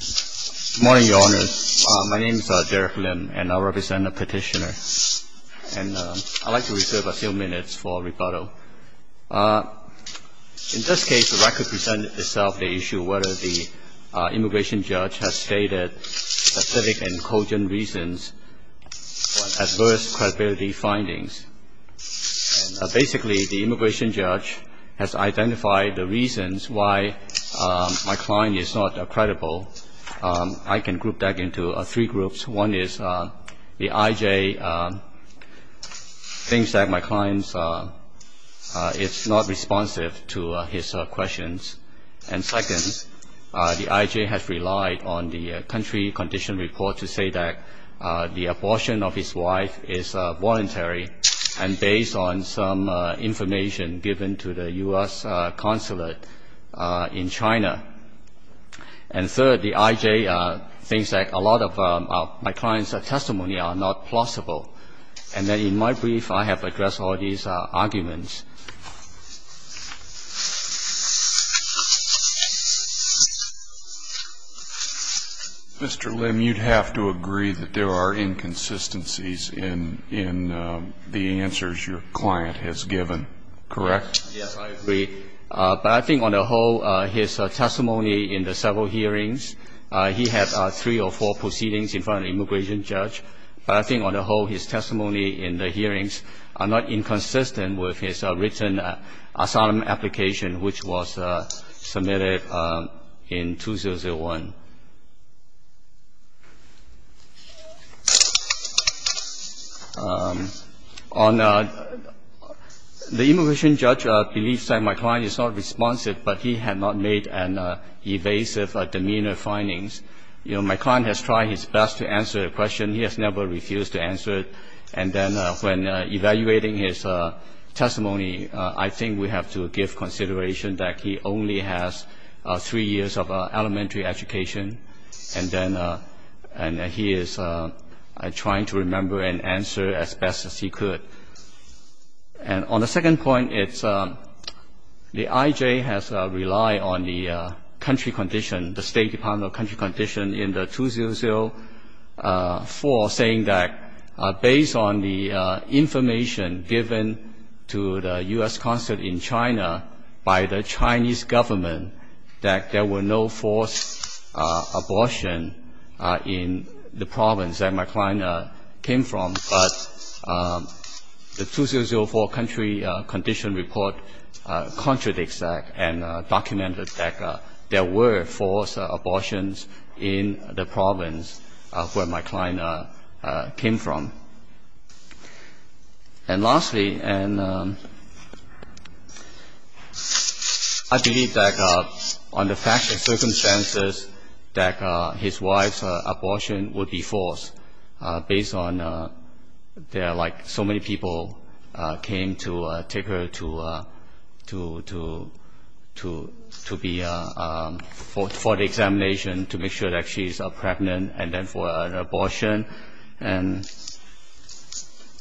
Good morning, Your Honor. My name is Derek Lim, and I represent the petitioner. And I'd like to reserve a few minutes for rebuttal. In this case, the record presented itself the issue whether the immigration judge has stated specific and cogent reasons for adverse credibility findings. Basically, the immigration judge has identified the reasons why my client is not credible. I can group that into three groups. One is the I.J. thinks that my client is not responsive to his questions. And second, the I.J. has relied on the country condition report to say that the abortion of his wife is voluntary and based on some information given to the U.S. consulate in China. And third, the I.J. thinks that a lot of my client's testimony are not plausible. And then in my brief, I have addressed all these arguments. Mr. Lim, you'd have to agree that there are inconsistencies in the answers your client has given, correct? Yes, I agree. But I think on the whole, his testimony in the several hearings, he had three or four proceedings in front of the immigration judge. But I think on the whole, his testimony in the hearings are not inconsistent with his written asylum application, which was submitted in 2001. The immigration judge believes that my client is not responsive, but he had not made an evasive demeanor findings. You know, my client has tried his best to answer the question. He has never refused to answer it. And then when evaluating his testimony, I think we have to give consideration that he only has three years of elementary education. And then he is trying to remember and answer as best as he could. And on the second point, it's the I.J. has relied on the country condition, the State Department of Country Condition in the 2004, saying that based on the information given to the U.S. consulate in China by the Chinese government, that there were no forced abortion in the province that my client came from. But the 2004 country condition report contradicts that and documented that there were forced abortions in the province where my client came from. And lastly, and I believe that on the facts and circumstances, that his wife's abortion would be forced based on there are like so many people came to take her to be for the examination to make sure that she's pregnant and then for an abortion. And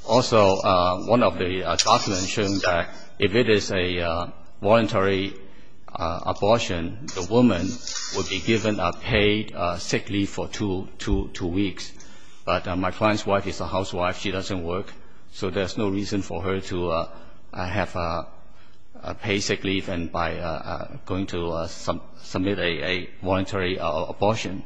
also one of the documents showing that if it is a voluntary abortion, the woman would be given paid sick leave for two weeks. But my client's wife is a housewife. She doesn't work. So there's no reason for her to have paid sick leave by going to submit a voluntary abortion.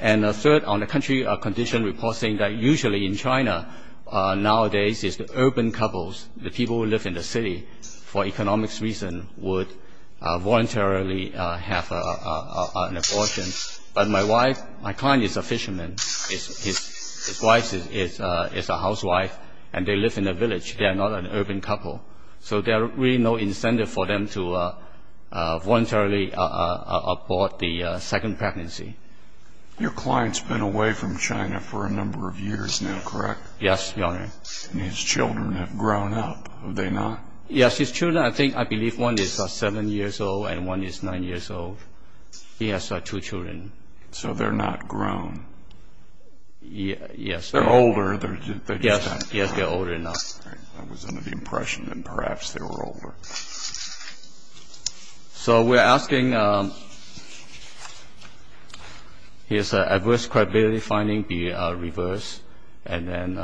And third, on the country condition report saying that usually in China nowadays is the urban couples, the people who live in the city for economics reason would voluntarily have an abortion. But my wife, my client is a fisherman. His wife is a housewife, and they live in a village. They are not an urban couple. So there are really no incentive for them to voluntarily abort the second pregnancy. Your client's been away from China for a number of years now, correct? Yes, Your Honor. And his children have grown up, have they not? Yes, his children. I think I believe one is seven years old and one is nine years old. He has two children. So they're not grown. Yes. They're older. Yes, they're older now. I was under the impression that perhaps they were older. So we're asking his adverse credibility finding be reversed and then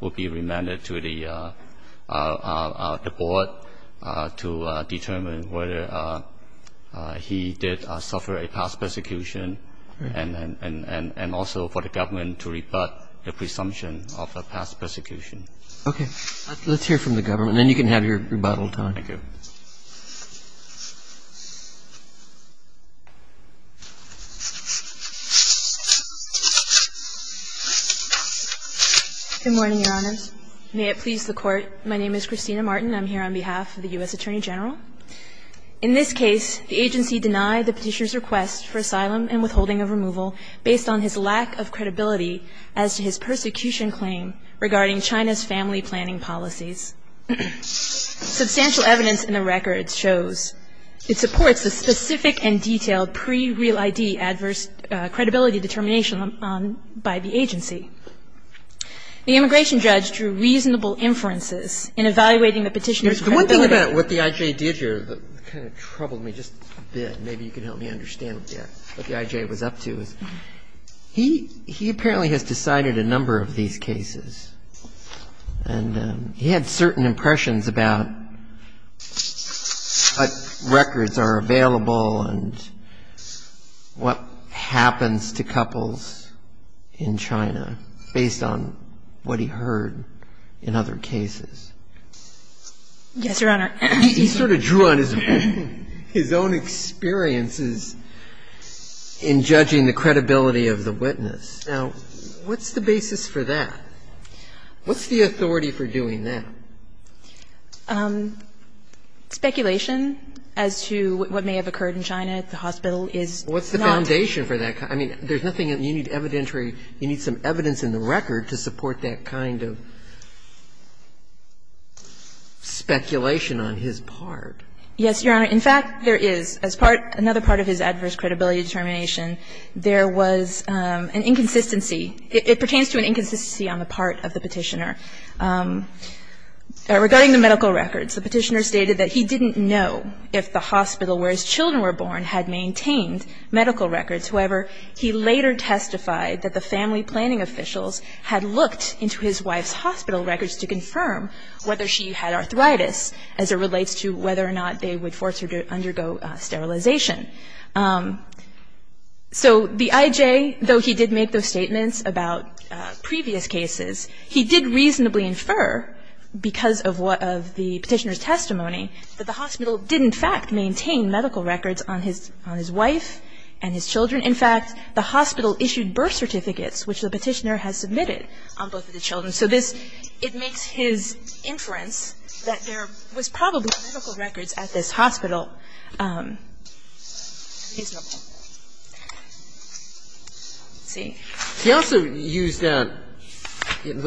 will be remanded to the board to determine whether he did suffer a past persecution and also for the government to rebut the presumption of a past persecution. Okay. Let's hear from the government, and then you can have your rebuttal time. Thank you. Good morning, Your Honors. May it please the Court. My name is Christina Martin. I'm here on behalf of the U.S. Attorney General. In this case, the agency denied the Petitioner's request for asylum and withholding on his lack of credibility as to his persecution claim regarding China's family planning policies. Substantial evidence in the record shows it supports the specific and detailed pre-real ID adverse credibility determination by the agency. The immigration judge drew reasonable inferences in evaluating the Petitioner's credibility. The one thing about what the I.J. did here kind of troubled me just a bit. Maybe you can help me understand what the I.J. was up to. He apparently has decided a number of these cases, and he had certain impressions about what records are available and what happens to couples in China based on what he heard in other cases. Yes, Your Honor. He sort of drew on his own experiences in judging the credibility of the witness. Now, what's the basis for that? What's the authority for doing that? Speculation as to what may have occurred in China at the hospital is not the basis. What's the foundation for that? I mean, there's nothing that you need evidentiary, you need some evidence in the record to support that kind of speculation on his part. Yes, Your Honor. In fact, there is. As part of his adverse credibility determination, there was an inconsistency – it pertains to an inconsistency on the part of the Petitioner. Regarding the medical records, the Petitioner stated that he didn't know if the hospital where his children were born had maintained medical records. However, he later testified that the family planning officials had looked into his wife's hospital records to confirm whether she had arthritis as it relates to whether or not they would force her to undergo sterilization. So the IJ, though he did make those statements about previous cases, he did reasonably infer because of the Petitioner's testimony that the hospital did in fact maintain medical records on his wife and his children. In fact, the hospital issued birth certificates, which the Petitioner has submitted on both of the children. So this – it makes his inference that there was probably medical records at this hospital reasonable. Let's see. He also used the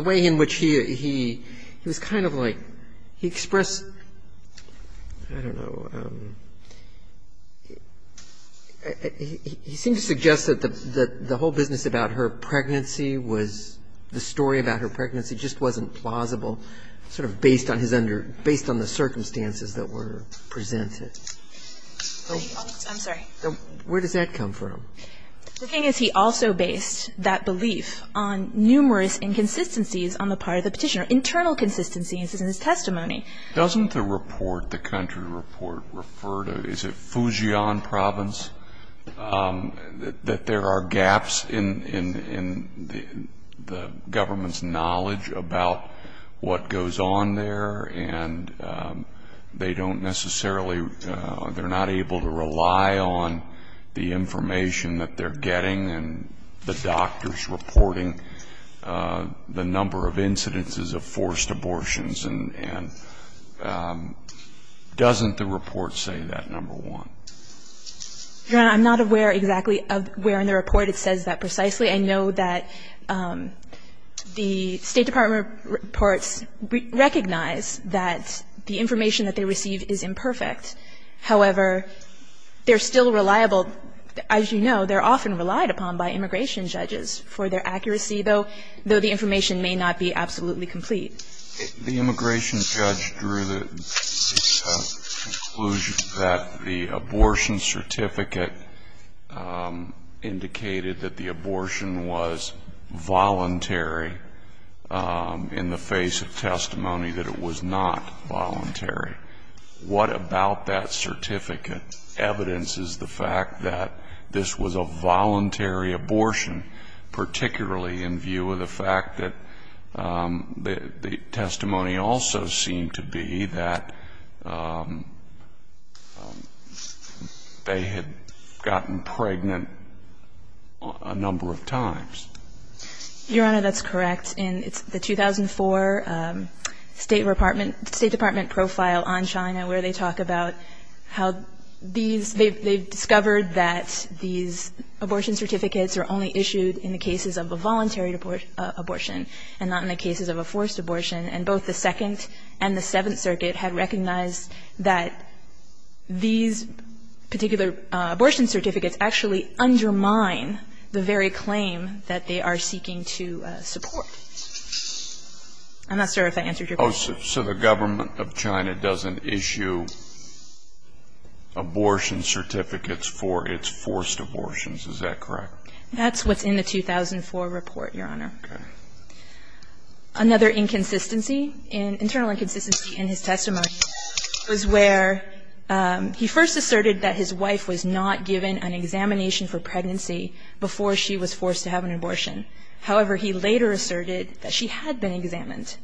way in which he was kind of like – he expressed, I don't know, he seemed to suggest that the whole business about her pregnancy was – the story about her pregnancy just wasn't plausible sort of based on his under – based on the circumstances that were presented. I'm sorry. Where does that come from? The thing is he also based that belief on numerous inconsistencies on the part of the Petitioner, internal consistencies in his testimony. Doesn't the report, the country report, refer to – is it Fujian province? That there are gaps in the government's knowledge about what goes on there and they don't necessarily – they're not able to rely on the information that they're getting and the doctors reporting the number of incidences of forced abortions and doesn't the report say that, number one? Your Honor, I'm not aware exactly of where in the report it says that precisely. I know that the State Department reports recognize that the information that they receive is imperfect. However, they're still reliable. As you know, they're often relied upon by immigration judges for their accuracy, though the information may not be absolutely complete. The immigration judge drew the conclusion that the abortion certificate indicated that the abortion was voluntary in the face of testimony that it was not voluntary. What about that certificate evidences the fact that this was a voluntary abortion, particularly in view of the fact that the testimony also seemed to be that they had gotten pregnant a number of times? Your Honor, that's correct. In the 2004 State Department profile on China where they talk about how these – that these abortions were issued in the cases of a voluntary abortion and not in the cases of a forced abortion. And both the Second and the Seventh Circuit had recognized that these particular abortion certificates actually undermine the very claim that they are seeking to support. I'm not sure if I answered your question. So the government of China doesn't issue abortion certificates for its forced abortions, is that correct? That's what's in the 2004 report, Your Honor. Okay. Another inconsistency, internal inconsistency in his testimony was where he first asserted that his wife was not given an examination for pregnancy before she was forced to have an abortion. However, he later asserted that she had been examined.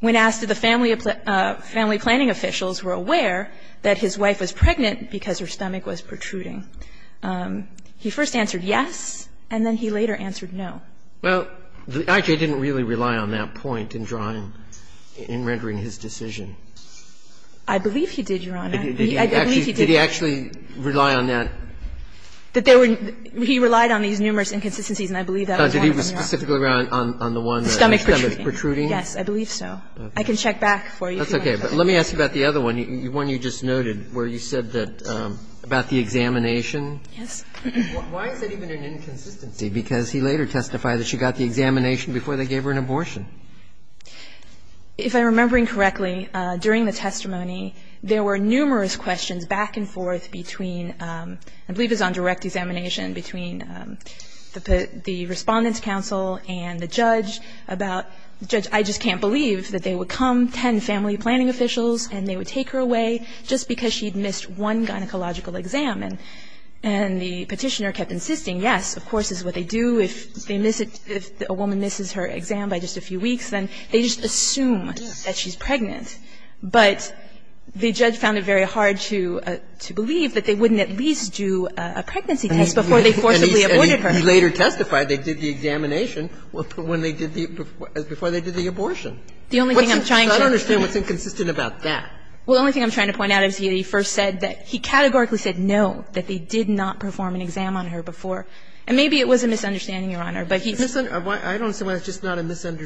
When asked if the family planning officials were aware that his wife was pregnant because her stomach was protruding, he first answered yes, and then he later answered no. Well, I.J. didn't really rely on that point in drawing – in rendering his decision. I believe he did, Your Honor. I believe he did. Did he actually rely on that? That there were – he relied on these numerous inconsistencies, and I believe that was one of them, Your Honor. Did he specifically rely on the one that his stomach was protruding? Yes, I believe so. I can check back for you. That's okay. But let me ask you about the other one, the one you just noted, where you said that about the examination. Yes. Why is that even an inconsistency? Because he later testified that she got the examination before they gave her an abortion. If I'm remembering correctly, during the testimony, there were numerous questions back and forth between – I believe it was on direct examination between the Respondent's Counsel and the judge about – the judge, I just can't believe that they would come, 10 family planning officials, and they would take her away just because she had missed one gynecological exam. And the petitioner kept insisting, yes, of course, is what they do. If they miss it – if a woman misses her exam by just a few weeks, then they just assume that she's pregnant. But the judge found it very hard to believe that they wouldn't at least do a pregnancy test before they forcibly aborted her. And he later testified they did the examination when they did the – before they did the abortion. The only thing I'm trying to – I don't understand what's inconsistent about that. Well, the only thing I'm trying to point out is he first said that – he categorically said no, that they did not perform an exam on her before. And maybe it was a misunderstanding, Your Honor, but he – It could have been, Your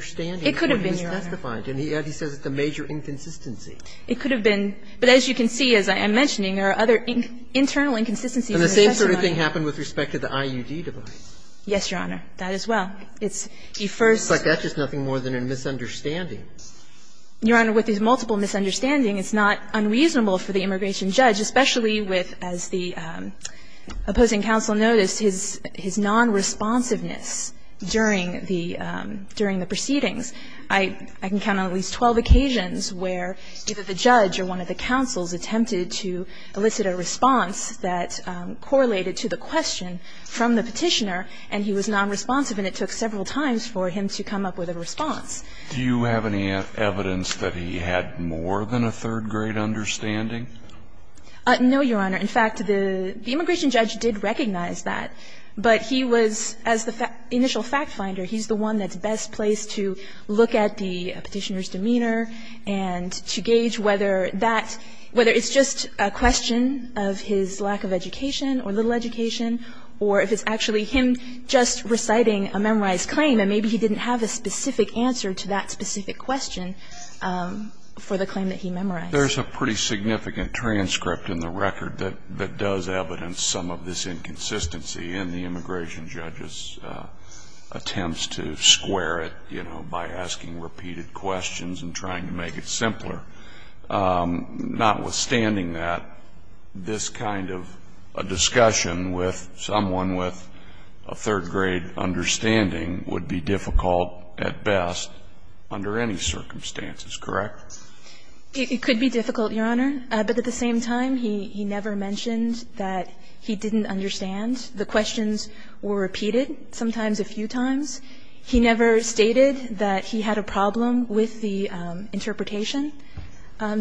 Honor. He testified, and yet he says it's a major inconsistency. It could have been. But as you can see, as I'm mentioning, there are other internal inconsistencies in the testimony. And the same sort of thing happened with respect to the IUD device. Yes, Your Honor. That as well. It's the first – It's like that's just nothing more than a misunderstanding. Your Honor, with these multiple misunderstandings, it's not unreasonable for the immigration judge, especially with, as the opposing counsel noticed, his non-responsiveness during the proceedings. I can count on at least 12 occasions where either the judge or one of the counsels attempted to elicit a response that correlated to the question from the Petitioner, and he was non-responsive, and it took several times for him to come up with a response. Do you have any evidence that he had more than a third-grade understanding? No, Your Honor. In fact, the immigration judge did recognize that. But he was, as the initial fact finder, he's the one that's best placed to look at the Petitioner's demeanor and to gauge whether that – whether it's just a question of his lack of education or little education, or if it's actually him just reciting a memorized claim, and maybe he didn't have a specific answer to that specific question for the claim that he memorized. There's a pretty significant transcript in the record that does evidence some of this inconsistency in the immigration judge's attempts to square it, you know, by asking repeated questions and trying to make it simpler. Notwithstanding that, this kind of a discussion with someone with a third-grade understanding would be difficult at best under any circumstances, correct? It could be difficult, Your Honor. But at the same time, he never mentioned that he didn't understand. The questions were repeated, sometimes a few times. He never stated that he had a problem with the interpretation.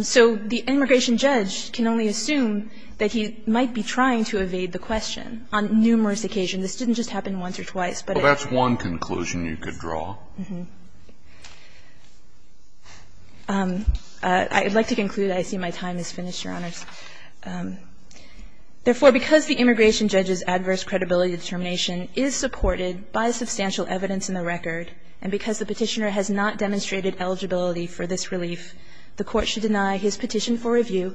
So the immigration judge can only assume that he might be trying to evade the question on numerous occasions. This didn't just happen once or twice, but it – Well, that's one conclusion you could draw. I would like to conclude. I see my time has finished, Your Honors. Therefore, because the immigration judge's adverse credibility determination is supported by substantial evidence in the record, and because the Petitioner has not demonstrated eligibility for this relief, the Court should deny his petition for review,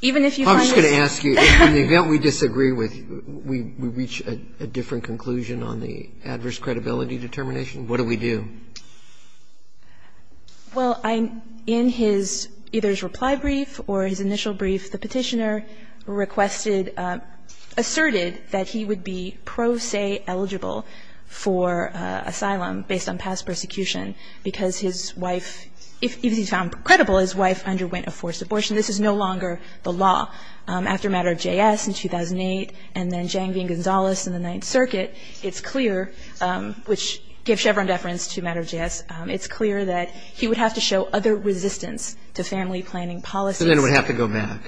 even if you find this – I'm just going to ask you, in the event we disagree with you, we reach a different conclusion on the adverse credibility determination, what do we do? Well, in his – either his reply brief or his initial brief, the Petitioner requested – asserted that he would be pro se eligible for asylum based on past persecution because his wife – even if he's found credible, his wife underwent a forced abortion. This is no longer the law. After a matter of JS in 2008 and then Zhang v. Gonzalez in the Ninth Circuit, it's clear, which gave Chevron deference to a matter of JS, it's clear that he would have to show other resistance to family planning policies. And then would have to go back.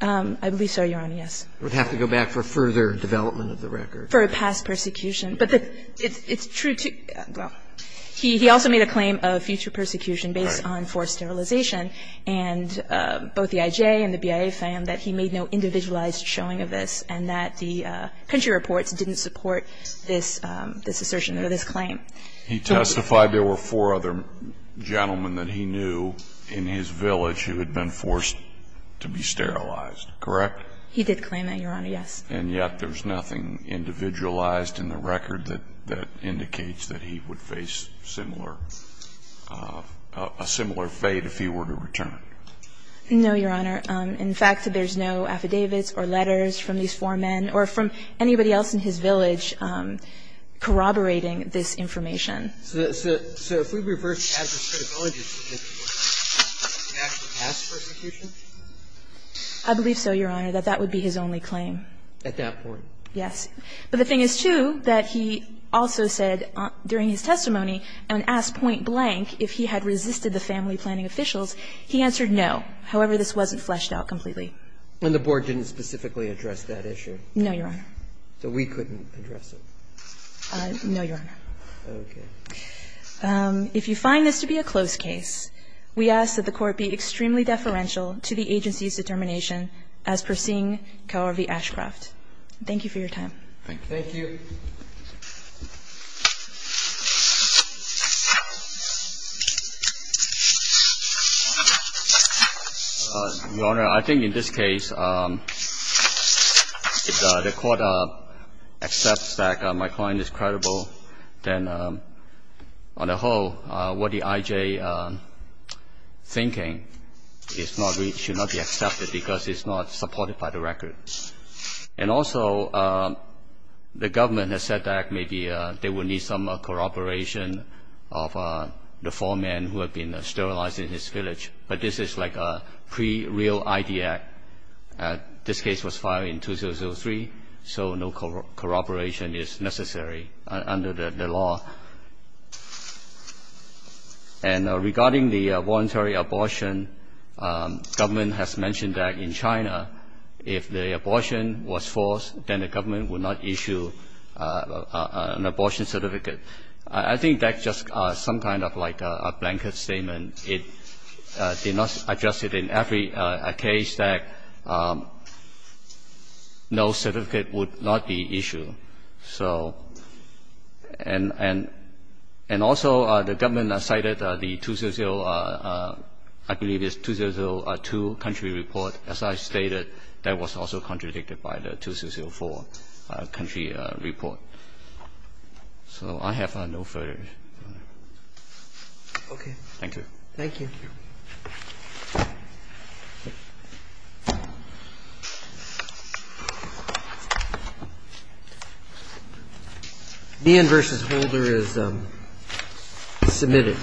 I believe so, Your Honor, yes. Would have to go back for further development of the record. For a past persecution. But it's true to – well, he also made a claim of future persecution based on forced sterilization. And both the IJ and the BIA found that he made no individualized showing of this and that the country reports didn't support this assertion or this claim. He testified there were four other gentlemen that he knew in his village who had been forced to be sterilized, correct? He did claim that, Your Honor, yes. And yet there's nothing individualized in the record that indicates that he would have faced similar – a similar fate if he were to return. No, Your Honor. In fact, there's no affidavits or letters from these four men or from anybody else in his village corroborating this information. So if we reverse the adversary of allegations against him, would he actually pass persecution? I believe so, Your Honor, that that would be his only claim. At that point. Yes. But the thing is, too, that he also said during his testimony and asked point blank if he had resisted the family planning officials, he answered no. However, this wasn't fleshed out completely. And the Board didn't specifically address that issue? No, Your Honor. So we couldn't address it? No, Your Honor. Okay. If you find this to be a close case, we ask that the Court be extremely deferential to the agency's determination as per Singh, Kaur v. Ashcroft. Thank you for your time. Thank you. Thank you. Your Honor, I think in this case, the Court accepts that my client is credible. Then on the whole, what the I.J. thinking is not reached, should not be accepted because it's not supported by the record. And also, the government has said that maybe they will need some corroboration of the four men who have been sterilized in his village. But this is like a pre-real ID act. This case was filed in 2003, so no corroboration is necessary under the law. And regarding the voluntary abortion, government has mentioned that in China, if the abortion was forced, then the government would not issue an abortion certificate. I think that's just some kind of like a blanket statement. It did not address it in every case that no certificate would not be issued. So and also, the government cited the 2000, I believe it's 2002 country report. As I stated, that was also contradicted by the 2004 country report. So I have no further. Okay. Thank you. Thank you. Thank you. Meehan v. Holder is submitted.